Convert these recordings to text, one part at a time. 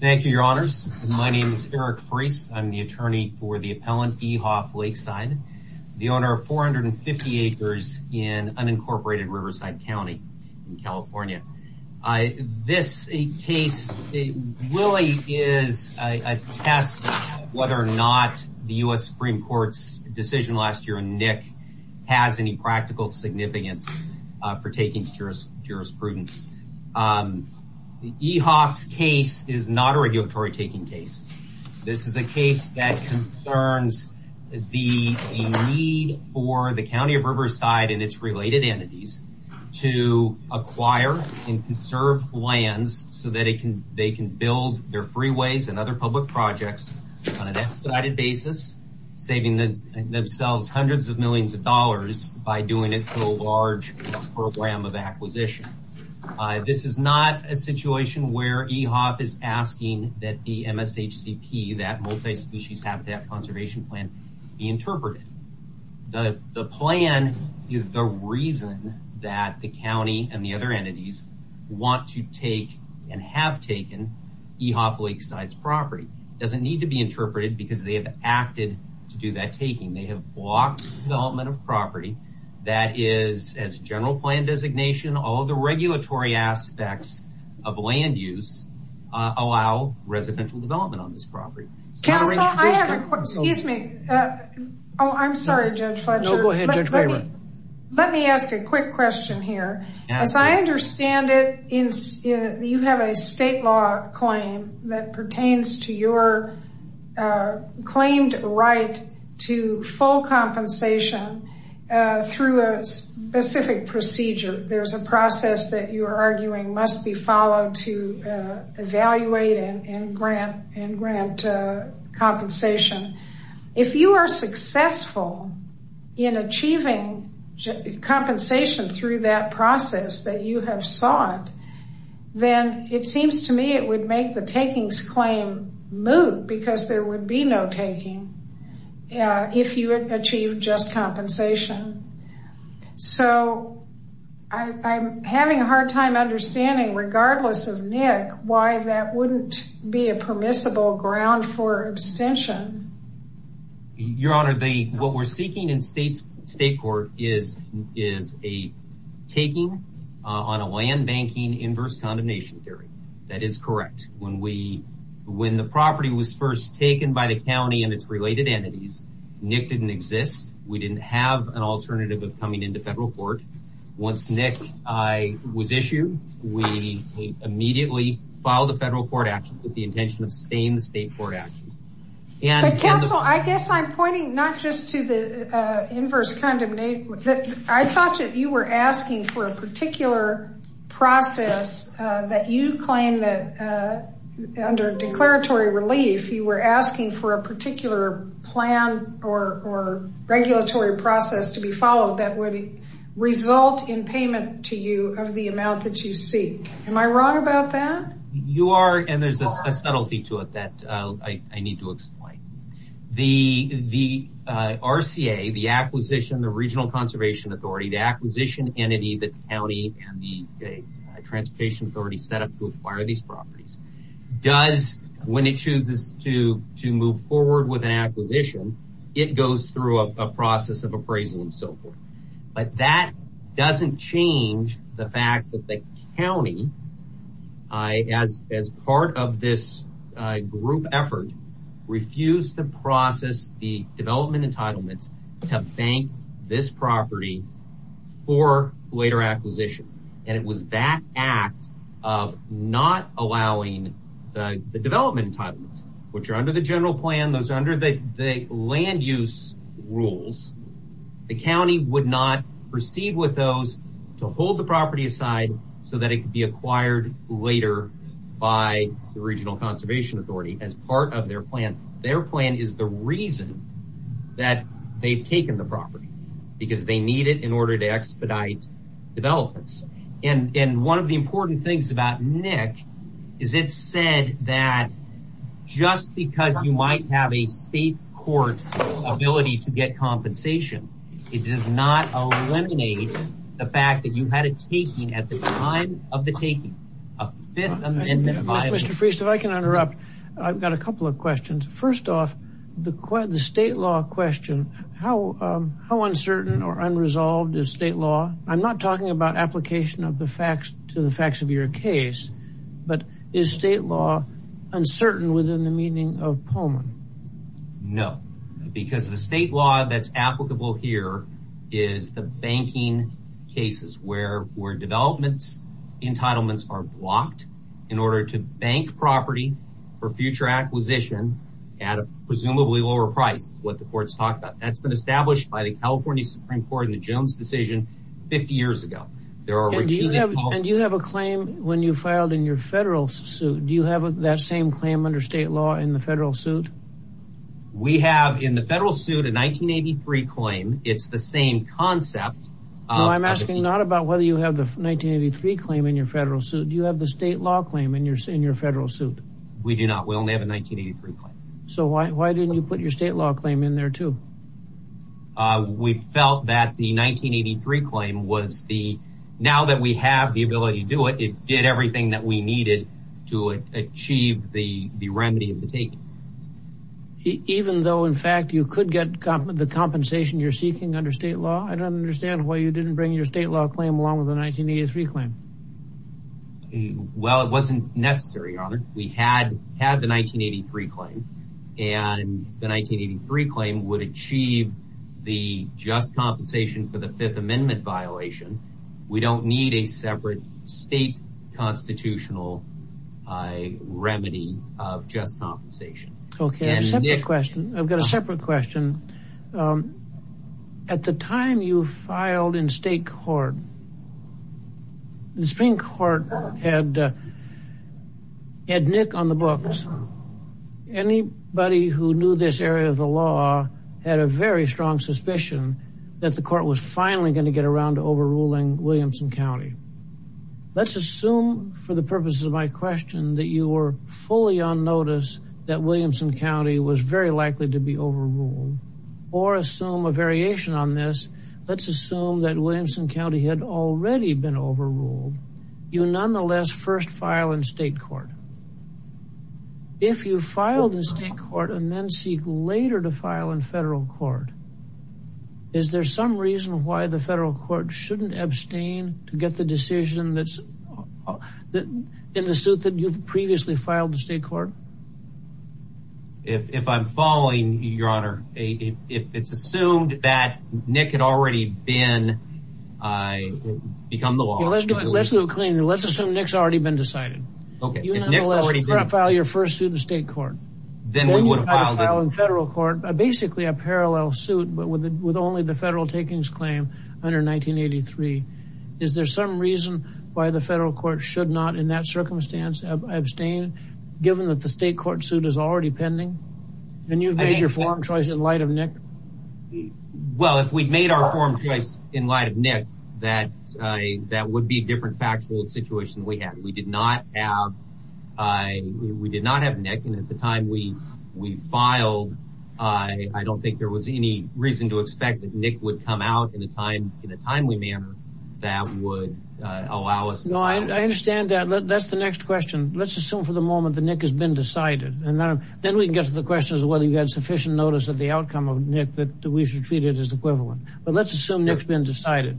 Thank you, your honors. My name is Eric Freese. I'm the attorney for the appellant EHOF Lakeside, the owner of 450 acres in unincorporated Riverside County in California. This case really is a test of whether or not the US Supreme Court's decision last year in Nick has any practical significance for taking jurisprudence. The EHOF's case is not a regulatory taking case. This is a case that concerns the need for the county of Riverside and its related entities to acquire and conserve lands so that they can build their freeways and other public projects on an expedited basis, saving themselves hundreds of millions of dollars by doing it large program of acquisition. This is not a situation where EHOF is asking that the MSHCP, that multi-species habitat conservation plan, be interpreted. The plan is the reason that the county and the other entities want to take and have taken EHOF Lakeside's property. It doesn't need to be interpreted, They have blocked development of property that is, as general plan designation, all the regulatory aspects of land use allow residential development on this property. Counsel, I have a question. Excuse me. Oh, I'm sorry, Judge Fletcher. No, go ahead, Judge. Let me ask a quick question here. As I understand it, you have a state law claim that pertains to your claimed right to full compensation through a specific procedure. There's a process that you are arguing must be followed to evaluate and grant compensation. If you are successful in achieving compensation through that process that you have sought, then it seems to me it would make the takings claim moot because there would be no taking if you achieved just compensation. So I'm having a hard time understanding, regardless of Nick, why that wouldn't be a permissible ground for abstention. Your Honor, what we're seeking in state court is a taking on a land banking inverse condemnation theory. That is correct. When the property was first taken by the county and its related entities, Nick didn't exist. We didn't have an alternative of coming into federal court. Once Nick was issued, we immediately filed a federal court action with the intention of staying the state court action. But, Counsel, I guess I'm pointing not just to the inverse condemnation. I thought that you were asking for a particular process that you claim that under declaratory relief, you were asking for a particular plan or regulatory process to be followed that would result in payment to you of the amount that you seek. Am I wrong about that? You are, and there's a subtlety to it that I need to explain. The RCA, the acquisition, the Regional Conservation Authority, the acquisition entity, the county and the Transportation Authority set up to acquire these properties, does, when it chooses to move forward with an acquisition, it goes through a process of appraisal and so forth. But that doesn't change the fact that the county, as part of this group effort, refused to process the development entitlements to bank this property for later acquisition. And it was that act of not allowing the development entitlements, which are under the general plan, those are under the land use rules, the county would not proceed with those to hold the property aside so that it could be acquired later by the Regional Conservation Authority as part of their plan. Their plan is the reason that they've taken the property, because they need it in order to expedite developments. And one of the important things about NIC is it said that just because you might have a state court ability to get compensation, it does not eliminate the fact that you had a taking at the time of the taking, a fifth amendment violation. Mr. Friest, if I can interrupt, I've got a couple of questions. First off, the state law question, how uncertain or unresolved is state law? I'm not talking about application of the facts to the facts of your case, but is state law uncertain within the meaning of Pullman? No, because the state law that's applicable here is the banking cases where developments entitlements are blocked in order to bank property for future acquisition at a presumably lower price, what the court's talked about. That's been established by the California Supreme Court in the Jones decision 50 years ago. There are- And do you have a claim when you filed in your federal suit? Do you have that same claim under state law in the federal suit? We have in the federal suit, a 1983 claim. It's the same concept. I'm asking not about whether you have the 1983 claim in your federal suit. Do you have the state law claim in your federal suit? We do not. We only have a 1983 claim. So why didn't you put your state law claim in there too? We felt that the 1983 claim was the, now that we have the ability to do it, it did everything that we needed to achieve the remedy of the taking. Even though in fact, you could get the compensation you're seeking under state law? I don't understand why you didn't bring your state law claim along with the 1983 claim. Well, it wasn't necessary, Your Honor. We had the 1983 claim. And the 1983 claim would achieve the just compensation for the Fifth Amendment violation. We don't need a separate state constitutional remedy of just compensation. Okay, I've got a separate question. At the time you filed in state court, the Supreme Court had Nick on the books. Anybody who knew this area of the law had a very strong suspicion that the court was finally gonna get around to overruling Williamson County. Let's assume for the purposes of my question that you were fully on notice that Williamson County was very likely to be overruled. Or assume a variation on this. Let's assume that Williamson County had already been overruled. You nonetheless first file in state court. If you filed in state court and then seek later to file in federal court, is there some reason why the federal court shouldn't abstain to get the decision that's in the suit that you've previously filed in state court? If I'm following, Your Honor, if it's assumed that Nick had already become the law. Let's do it cleanly. Let's assume Nick's already been decided. Okay, if Nick's already been- You nonetheless file your first suit in state court. Then you file in federal court, basically a parallel suit, but with only the federal takings claim under 1983. Is there some reason why the federal court should not in that circumstance abstain given that the state court suit is already pending? And you've made your forum choice in light of Nick. Well, if we'd made our forum choice in light of Nick, that would be a different factual situation we had. We did not have Nick. And at the time we filed, I don't think there was any reason to expect that Nick would come out in a timely manner that would allow us- No, I understand that. That's the next question. Let's assume for the moment that Nick has been decided. And then we can get to the question as to whether you had sufficient notice of the outcome of Nick that we should treat it as equivalent. But let's assume Nick's been decided.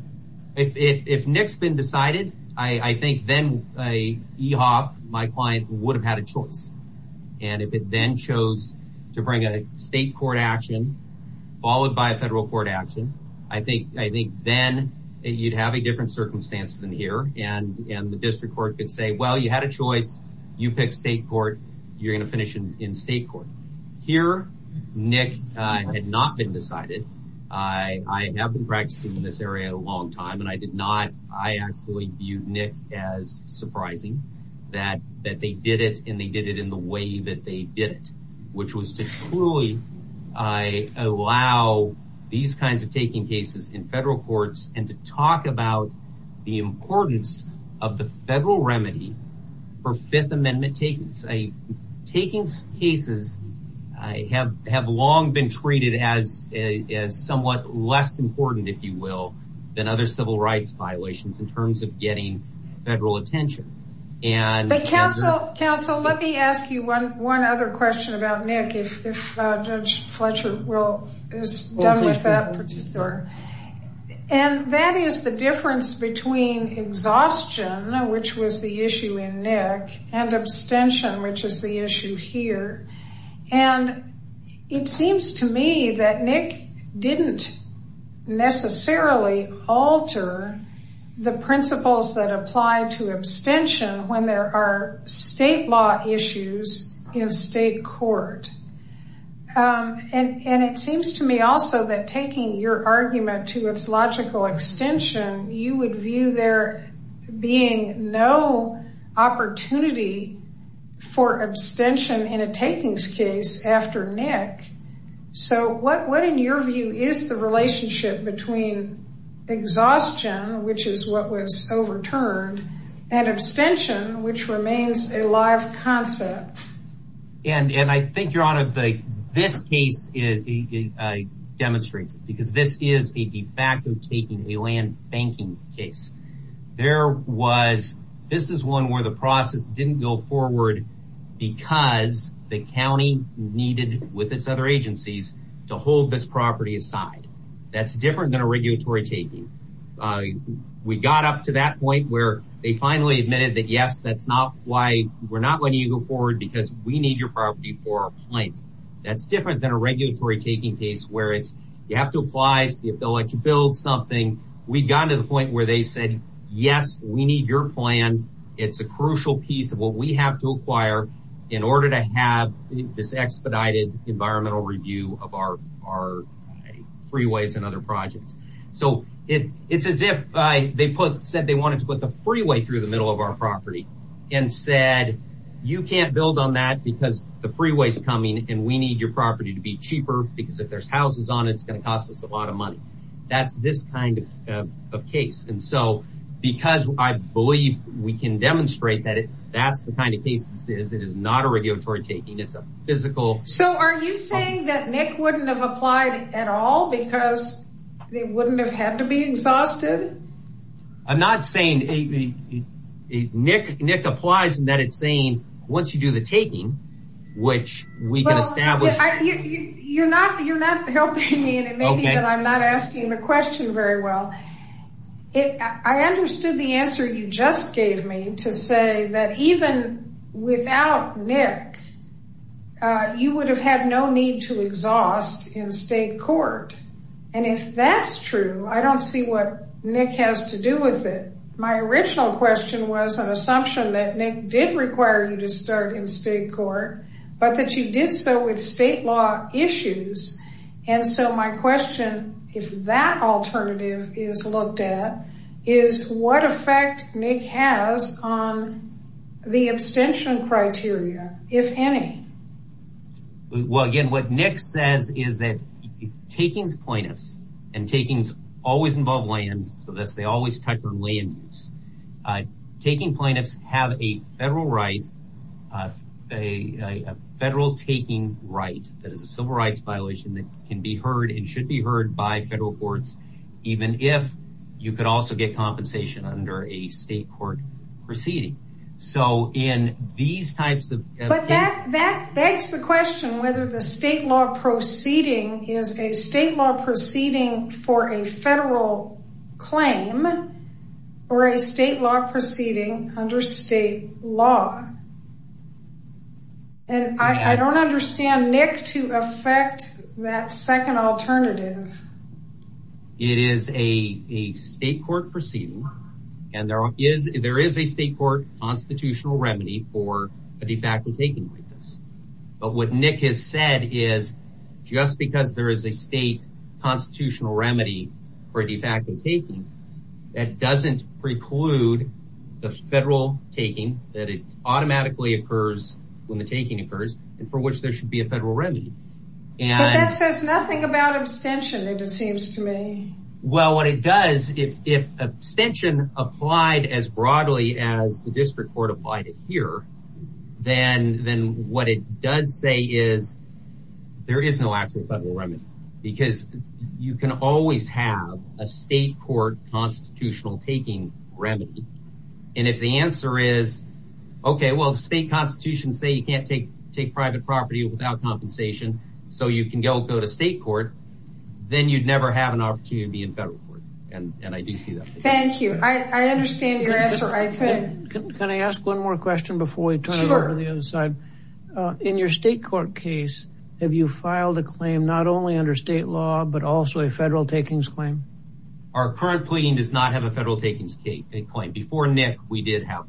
If Nick's been decided, I think then EHOF, my client, would have had a choice. And if it then chose to bring a state court action followed by a federal court action, I think then you'd have a different circumstance than here. And the district court could say, well, you had a choice. You pick state court. You're gonna finish in state court. Here, Nick had not been decided. I have been practicing in this area a long time, and I did not, I actually viewed Nick as surprising that they did it, and they did it in the way that they did it, which was to truly allow these kinds of taking cases in federal courts and to talk about the importance of the federal remedy for Fifth Amendment takings. Takings cases have long been treated as somewhat less important, if you will, than other civil rights violations in terms of getting federal attention. But counsel, let me ask you one other question about Nick, if Judge Fletcher is done with that particular. And that is the difference between exhaustion, which was the issue in Nick, and abstention, which is the issue here. And it seems to me that Nick didn't necessarily alter the principles that apply to abstention when there are state law issues in state court. And it seems to me also that taking your argument to its logical extension, you would view there being no opportunity for abstention in a takings case after Nick. So what in your view is the relationship between exhaustion, which is what was overturned, and abstention, which remains a live concept? And I think your honor, this case demonstrates it, because this is a de facto taking, a land banking case. There was, this is one where the process didn't go forward because the county needed, with its other agencies, to hold this property aside. That's different than a regulatory taking. We got up to that point where they finally admitted that yes, that's not why, we're not letting you go forward because we need your property for a plan. That's different than a regulatory taking case where it's, you have to apply, see if they'll let you build something. We got to the point where they said, yes, we need your plan. It's a crucial piece of what we have to acquire in order to have this expedited environmental review of our freeways and other projects. So it's as if they put, said they wanted to put the freeway through the middle of our property and said, you can't build on that because the freeway's coming and we need your property to be cheaper because if there's houses on it, it's going to cost us a lot of money. That's this kind of case. And so, because I believe we can demonstrate that that's the kind of case this is, it is not a regulatory taking, it's a physical. So are you saying that Nick wouldn't have applied at all because they wouldn't have had to be exhausted? I'm not saying, Nick applies in that it's saying, once you do the taking, which we can establish. You're not helping me, and it may be that I'm not asking the question very well. I understood the answer you just gave me to say that even without Nick, you would have had no need to exhaust in state court. And if that's true, I don't see what Nick has to do with it. My original question was an assumption that Nick did require you to start in state court, but that you did so with state law issues. And so my question, if that alternative is looked at, is what effect Nick has on the abstention criteria, if any? Well, again, what Nick says is that takings plaintiffs, and takings always involve land, so they always touch on land use. Taking plaintiffs have a federal right, a federal taking right, that is a civil rights violation that can be heard and should be heard by federal courts, even if you could also get compensation under a state court proceeding. So in these types of cases- But that begs the question, whether the state law proceeding is a state law proceeding for a federal claim, or a state law proceeding under state law. And I don't understand Nick to effect that second alternative. It is a state court proceeding, and there is a state court constitutional remedy for a de facto taking like this. But what Nick has said is, just because there is a state constitutional remedy for a de facto taking, that doesn't preclude the federal taking, that it automatically occurs when the taking occurs, and for which there should be a federal remedy. And- But that says nothing about abstention, it seems to me. Well, what it does, if abstention applied as broadly as the district court applied it here, then what it does say is, there is no actual federal remedy. Because you can always have a state court constitutional taking remedy. And if the answer is, okay, well, if state constitutions say you can't take private property without compensation, so you can go to state court, then you'd never have an opportunity to be in federal court. And I do see that. Thank you, I understand your answer. Can I ask one more question before we turn it over to the other side? In your state court case, have you filed a claim not only under state law, but also a federal takings claim? Our current pleading does not have a federal takings claim. Before Nick, we did have.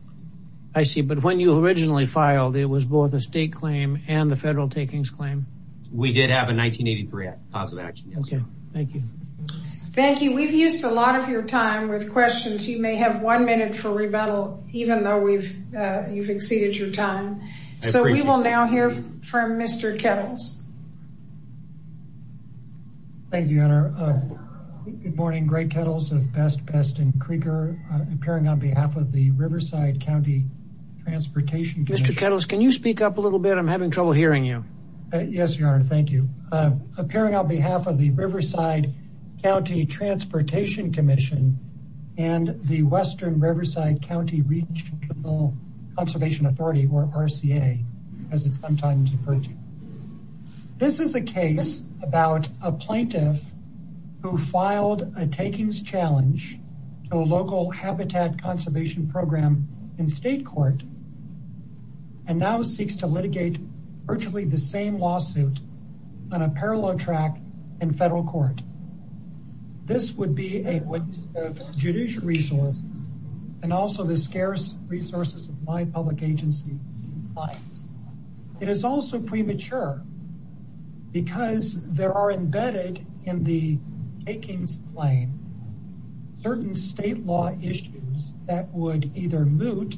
I see, but when you originally filed, it was both a state claim and the federal takings claim. We did have a 1983 positive action, yes. Okay, thank you. Thank you, we've used a lot of your time with questions. You may have one minute for rebuttal, even though you've exceeded your time. So we will now hear from Mr. Kettles. Thank you, Your Honor. Good morning, Greg Kettles of Best Best and Krieger, appearing on behalf of the Riverside County Transportation Commission. Mr. Kettles, can you speak up a little bit? I'm having trouble hearing you. Yes, Your Honor, thank you. Appearing on behalf of the Riverside County Transportation Commission, and the Western Riverside County Regional Conservation Authority, or RCA, as it's sometimes referred to. This is a case about a plaintiff who filed a takings challenge to a local habitat conservation program in state court, and now seeks to litigate virtually the same lawsuit on a parallel track in federal court. This would be a witness of judicial resources, and also the scarce resources of my public agency clients. It is also premature because there are embedded in the takings claim certain state law issues that would either moot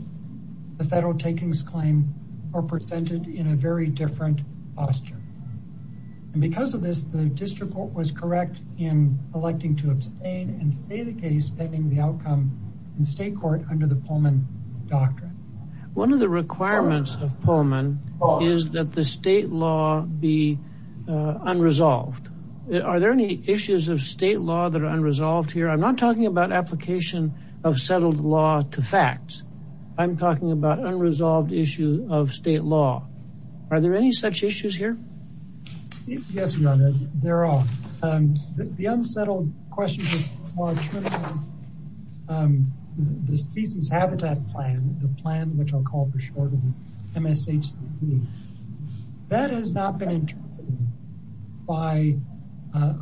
the federal takings claim or presented in a very different posture. And because of this, the district court was correct in electing to abstain and stay the case, pending the outcome in state court under the Pullman Doctrine. One of the requirements of Pullman is that the state law be unresolved. Are there any issues of state law that are unresolved here? I'm not talking about application of settled law to facts. I'm talking about unresolved issue of state law. Are there any such issues here? Yes, Your Honor, there are. The unsettled question is more true than the Species Habitat Plan, the plan which I'll call for short MSHCP. That has not been interpreted by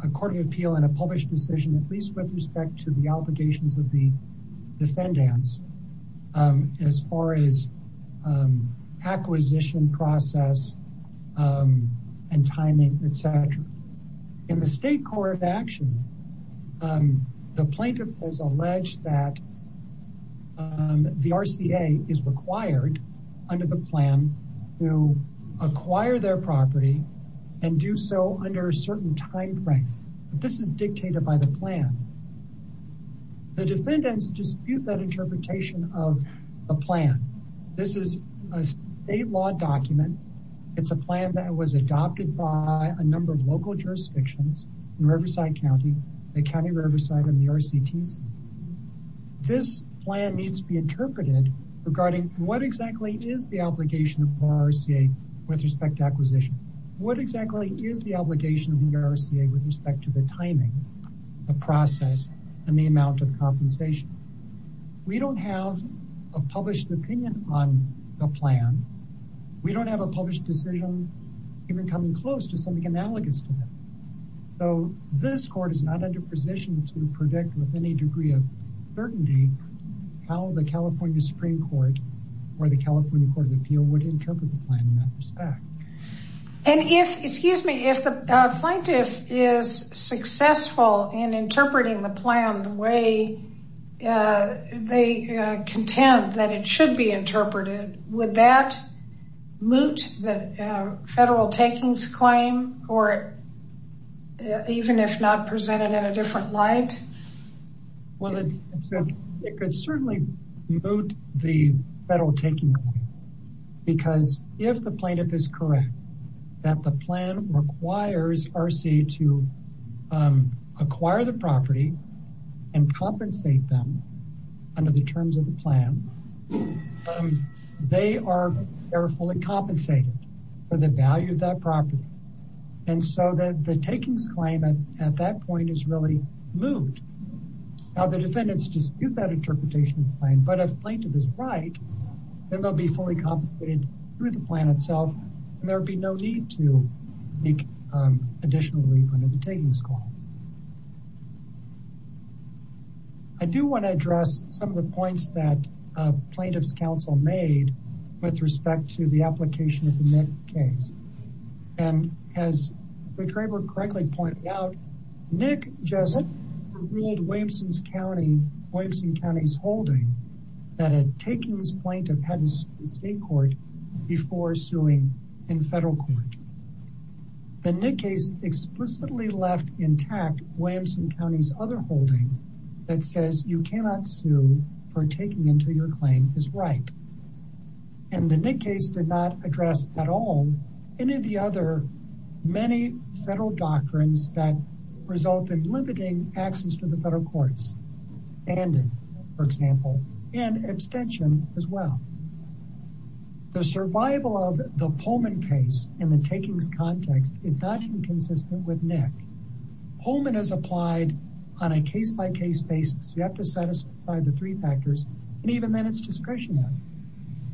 a court of appeal in a published decision, at least with respect to the obligations of the defendants as far as acquisition process and timing, et cetera. In the state court of action, the plaintiff has alleged that the RCA is required under the plan to acquire their property and do so under a certain timeframe. This is dictated by the plan. The defendants dispute that interpretation of the plan. This is a state law document. It's a plan that was adopted by a number of local jurisdictions in Riverside County, the County of Riverside and the RCTC. This plan needs to be interpreted regarding what exactly is the obligation of RCA with respect to acquisition? What exactly is the obligation of the RCA with respect to the timing, the process and the amount of compensation? We don't have a published opinion on the plan. We don't have a published decision even coming close to something analogous to that. So this court is not under position to predict with any degree of certainty how the California Supreme Court or the California Court of Appeal would interpret the plan in that respect. And if, excuse me, if the plaintiff is successful in interpreting the plan the way they contend that it should be interpreted, would that moot the federal takings claim or even if not presented in a different light? Well, it could certainly moot the federal takings claim because if the plaintiff is correct that the plan requires RCA to acquire the property and compensate them under the terms of the plan, they are fully compensated for the value of that property. And so the takings claim at that point is really moot. Now the defendants dispute that interpretation of the plan, but if plaintiff is right, then they'll be fully compensated through the plan itself and there'll be no need to make additional leave under the takings clause. I do wanna address some of the points that plaintiff's counsel made with respect to the application of the Nick case. And as the retriever correctly pointed out, Nick Jessup ruled Williamson County's holding that a takings plaintiff hadn't sued in state court before suing in federal court. The Nick case explicitly left intact Williamson County's other holding that says you cannot sue for taking into your claim is right. And the Nick case did not address at all any of the other many federal doctrines that resulted in limiting access to the federal courts and for example, and abstention as well. The survival of the Pullman case in the takings context is not inconsistent with Nick. Pullman has applied on a case by case basis. You have to satisfy the three factors and even then it's discretionary.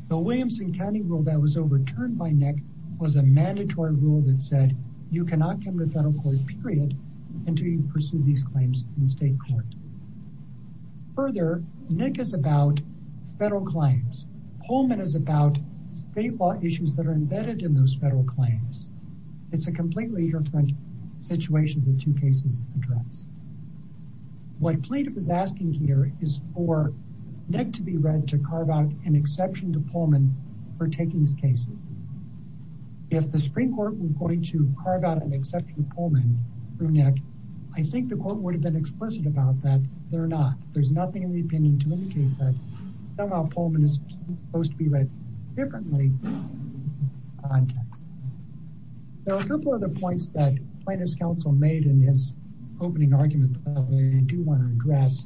The Williamson County rule that was overturned by Nick was a mandatory rule that said you cannot come to federal court period until you pursue these claims in state court. Further, Nick is about federal claims. Pullman is about state law issues that are embedded in those federal claims. It's a completely different situation the two cases address. What plaintiff is asking here is for Nick to be read to carve out an exception to Pullman for takings cases. If the Supreme Court were going to carve out an exception to Pullman through Nick, I think the court would have been explicit about that. They're not. There's nothing in the opinion to indicate that somehow Pullman is supposed to be read differently. There are a couple other points that plaintiff's counsel made in his opening argument that I do wanna address.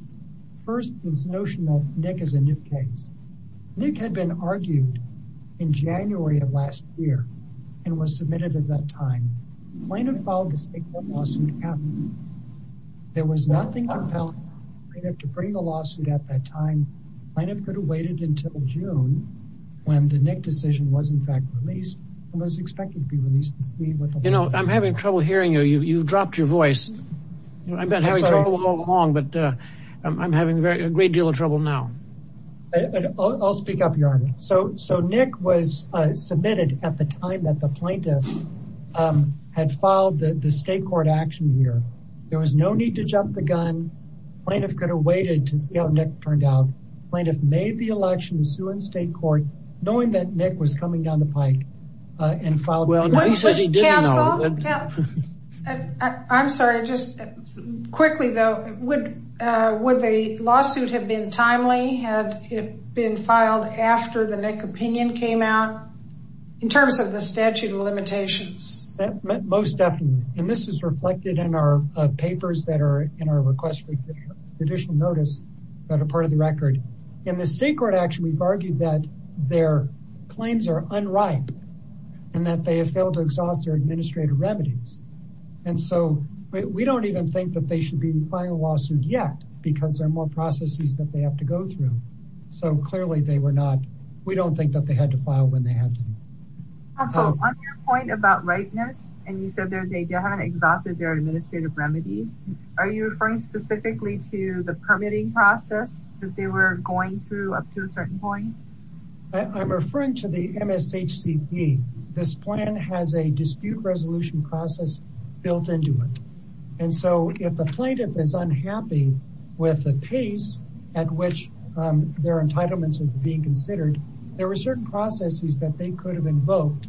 First, this notion of Nick as a new case. Nick had been argued in January of last year and was submitted at that time. Plaintiff filed the state court lawsuit and there was nothing compelled for the plaintiff to bring the lawsuit at that time. Plaintiff could have waited until June when the Nick decision was in fact released and was expected to be released. I'm having trouble hearing you. You've dropped your voice. I've been having trouble all along, but I'm having a great deal of trouble now. I'll speak up, Your Honor. So Nick was submitted at the time that the plaintiff had filed the state court action here. There was no need to jump the gun. Plaintiff could have waited to see how Nick turned out. Plaintiff made the election to sue in state court knowing that Nick was coming down the pike and filed- Well, he says he didn't know. I'm sorry. Just quickly though, would the lawsuit have been timely? Had it been filed after the Nick opinion came out? In terms of the statute of limitations. Most definitely. And this is reflected in our papers that are in our request for additional notice that are part of the record. In the state court action, we've argued that their claims are unripe and that they have failed to exhaust their administrative remedies. And so we don't even think that they should be filing a lawsuit yet because there are more processes that they have to go through. So clearly they were not, we don't think that they had to file when they had to. Counsel, on your point about ripeness, and you said that they haven't exhausted their administrative remedies. Are you referring specifically to the permitting process that they were going through up to a certain point? I'm referring to the MSHCP. This plan has a dispute resolution process built into it. And so if a plaintiff is unhappy with the pace at which their entitlements are being considered, there were certain processes that they could have invoked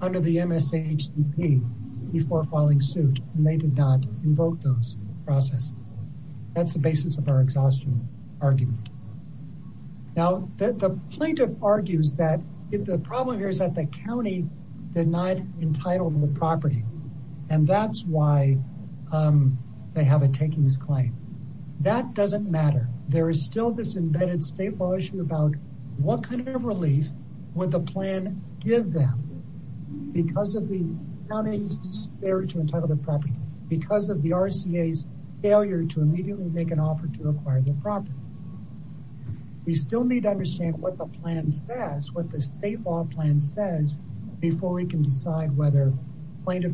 under the MSHCP before filing suit, and they did not invoke those processes. That's the basis of our exhaustion argument. Now, the plaintiff argues that the problem here is that the county denied entitlement of the property, and that's why they have a takings claim. That doesn't matter. There is still this embedded state law issue about what kind of relief would the plan give them because of the county's failure to entitle the property, because of the RCA's failure to immediately make an offer to acquire the property. We still need to understand what the plan says, what the state law plan says before we can decide whether plaintiff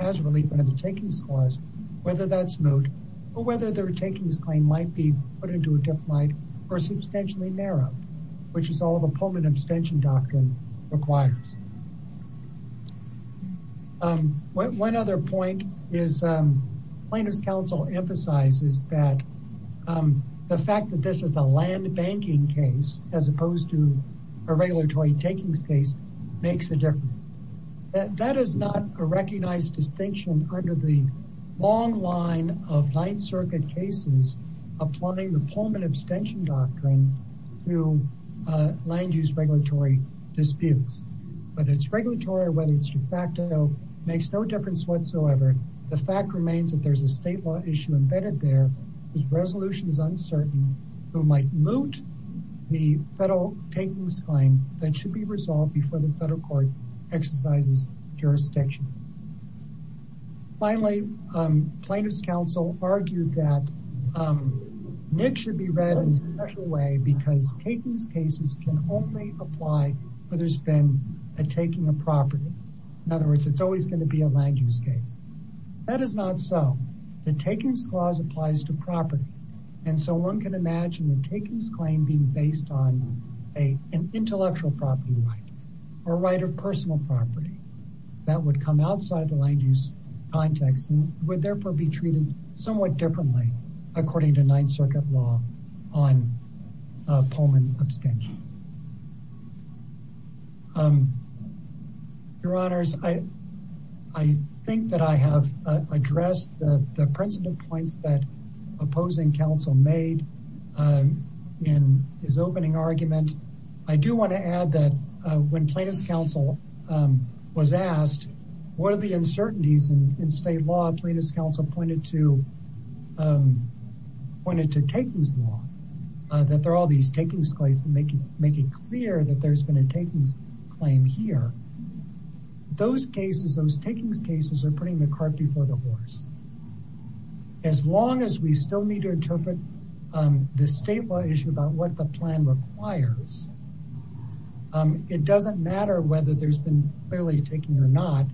has relief under the takings clause, whether that's moot, or whether their takings claim might be put into a deflight, or substantially narrowed, which is all the Pullman abstention doctrine requires. One other point is plaintiff's counsel emphasizes that the fact that this is a land banking case, as opposed to a regulatory takings case, makes a difference. That is not a recognized distinction under the long line of Ninth Circuit cases applying the Pullman abstention doctrine to land use regulatory disputes. Whether it's regulatory or whether it's de facto makes no difference whatsoever. The fact remains that there's a state law issue embedded there whose resolution is uncertain, who might moot the federal takings claim that should be resolved before the federal court exercises jurisdiction. Finally, plaintiff's counsel argued that NIC should be read in a special way because takings cases can only apply where there's been a taking of property. In other words, it's always gonna be a land use case. That is not so. The takings clause applies to property. And so one can imagine the takings claim being based on an intellectual property right, or right of personal property that would come outside the land use context and would therefore be treated somewhat differently according to Ninth Circuit law on Pullman abstention. Your honors, I think that I have addressed the precedent points that opposing counsel made in his opening argument. I do wanna add that when plaintiff's counsel was asked what are the uncertainties in state law, plaintiff's counsel pointed to takings law, that there are all these takings claims that make it clear that there's been a takings claim here. Those cases, those takings cases are putting the cart before the horse. As long as we still need to interpret the state law issue about what the plan requires, it doesn't matter whether there's been clearly a taking or not,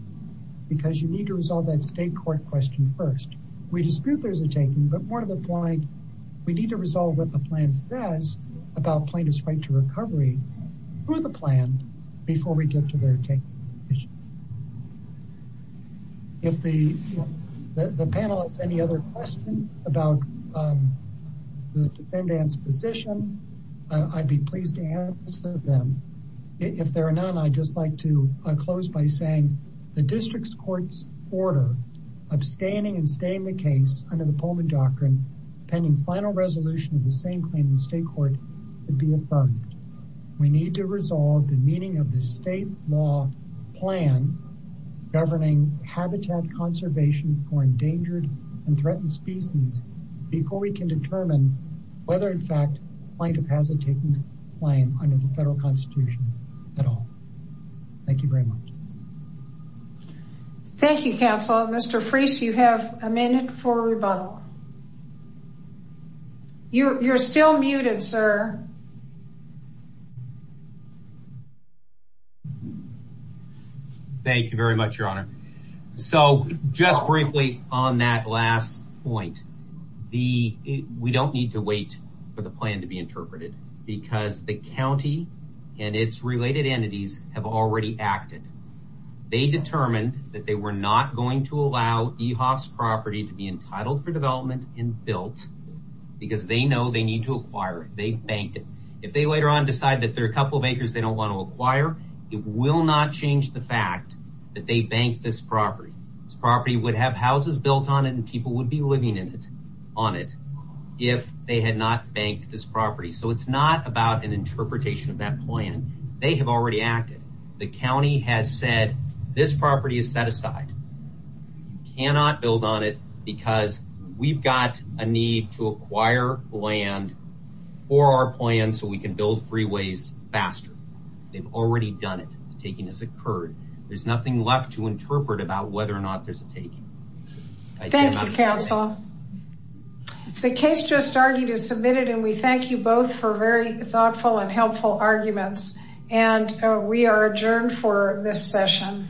because you need to resolve that state court question first. We dispute there's a taking, but more to the point, we need to resolve what the plan says about plaintiff's right to recovery through the plan before we get to their taking. If the panel has any other questions about the defendant's position, I'd be pleased to answer them. If there are none, I'd just like to close by saying the district's court's order, abstaining and staying the case under the Pullman Doctrine pending final resolution of the same claim in state court would be affirmed. We need to resolve the meaning of the state law plan governing habitat conservation for endangered and threatened species before we can determine whether in fact plaintiff has a taking claim under the federal constitution at all. Thank you very much. Thank you, counsel. Mr. Freese, you have a minute for rebuttal. You're still muted, sir. Thank you very much, your honor. So just briefly on that last point, we don't need to wait for the plan to be interpreted because the county and its related entities have already acted. They determined that they were not going to allow EHOF's property to be entitled for development and built because they know they need to acquire it. They banked it. If they later on decide that there are a couple of acres they don't want to acquire, it will not change the fact that they banked this property. This property would have houses built on it and people would be living in it on it if they had not banked this property. So it's not about an interpretation of that plan. They have already acted. The county has said this property is set aside. You cannot build on it because we've got a need to acquire land for our plan so we can build freeways faster. They've already done it. The taking has occurred. There's nothing left to interpret about whether or not there's a taking. Thank you, counsel. The case just argued is submitted and we thank you both for very thoughtful and helpful arguments and we are adjourned for this session.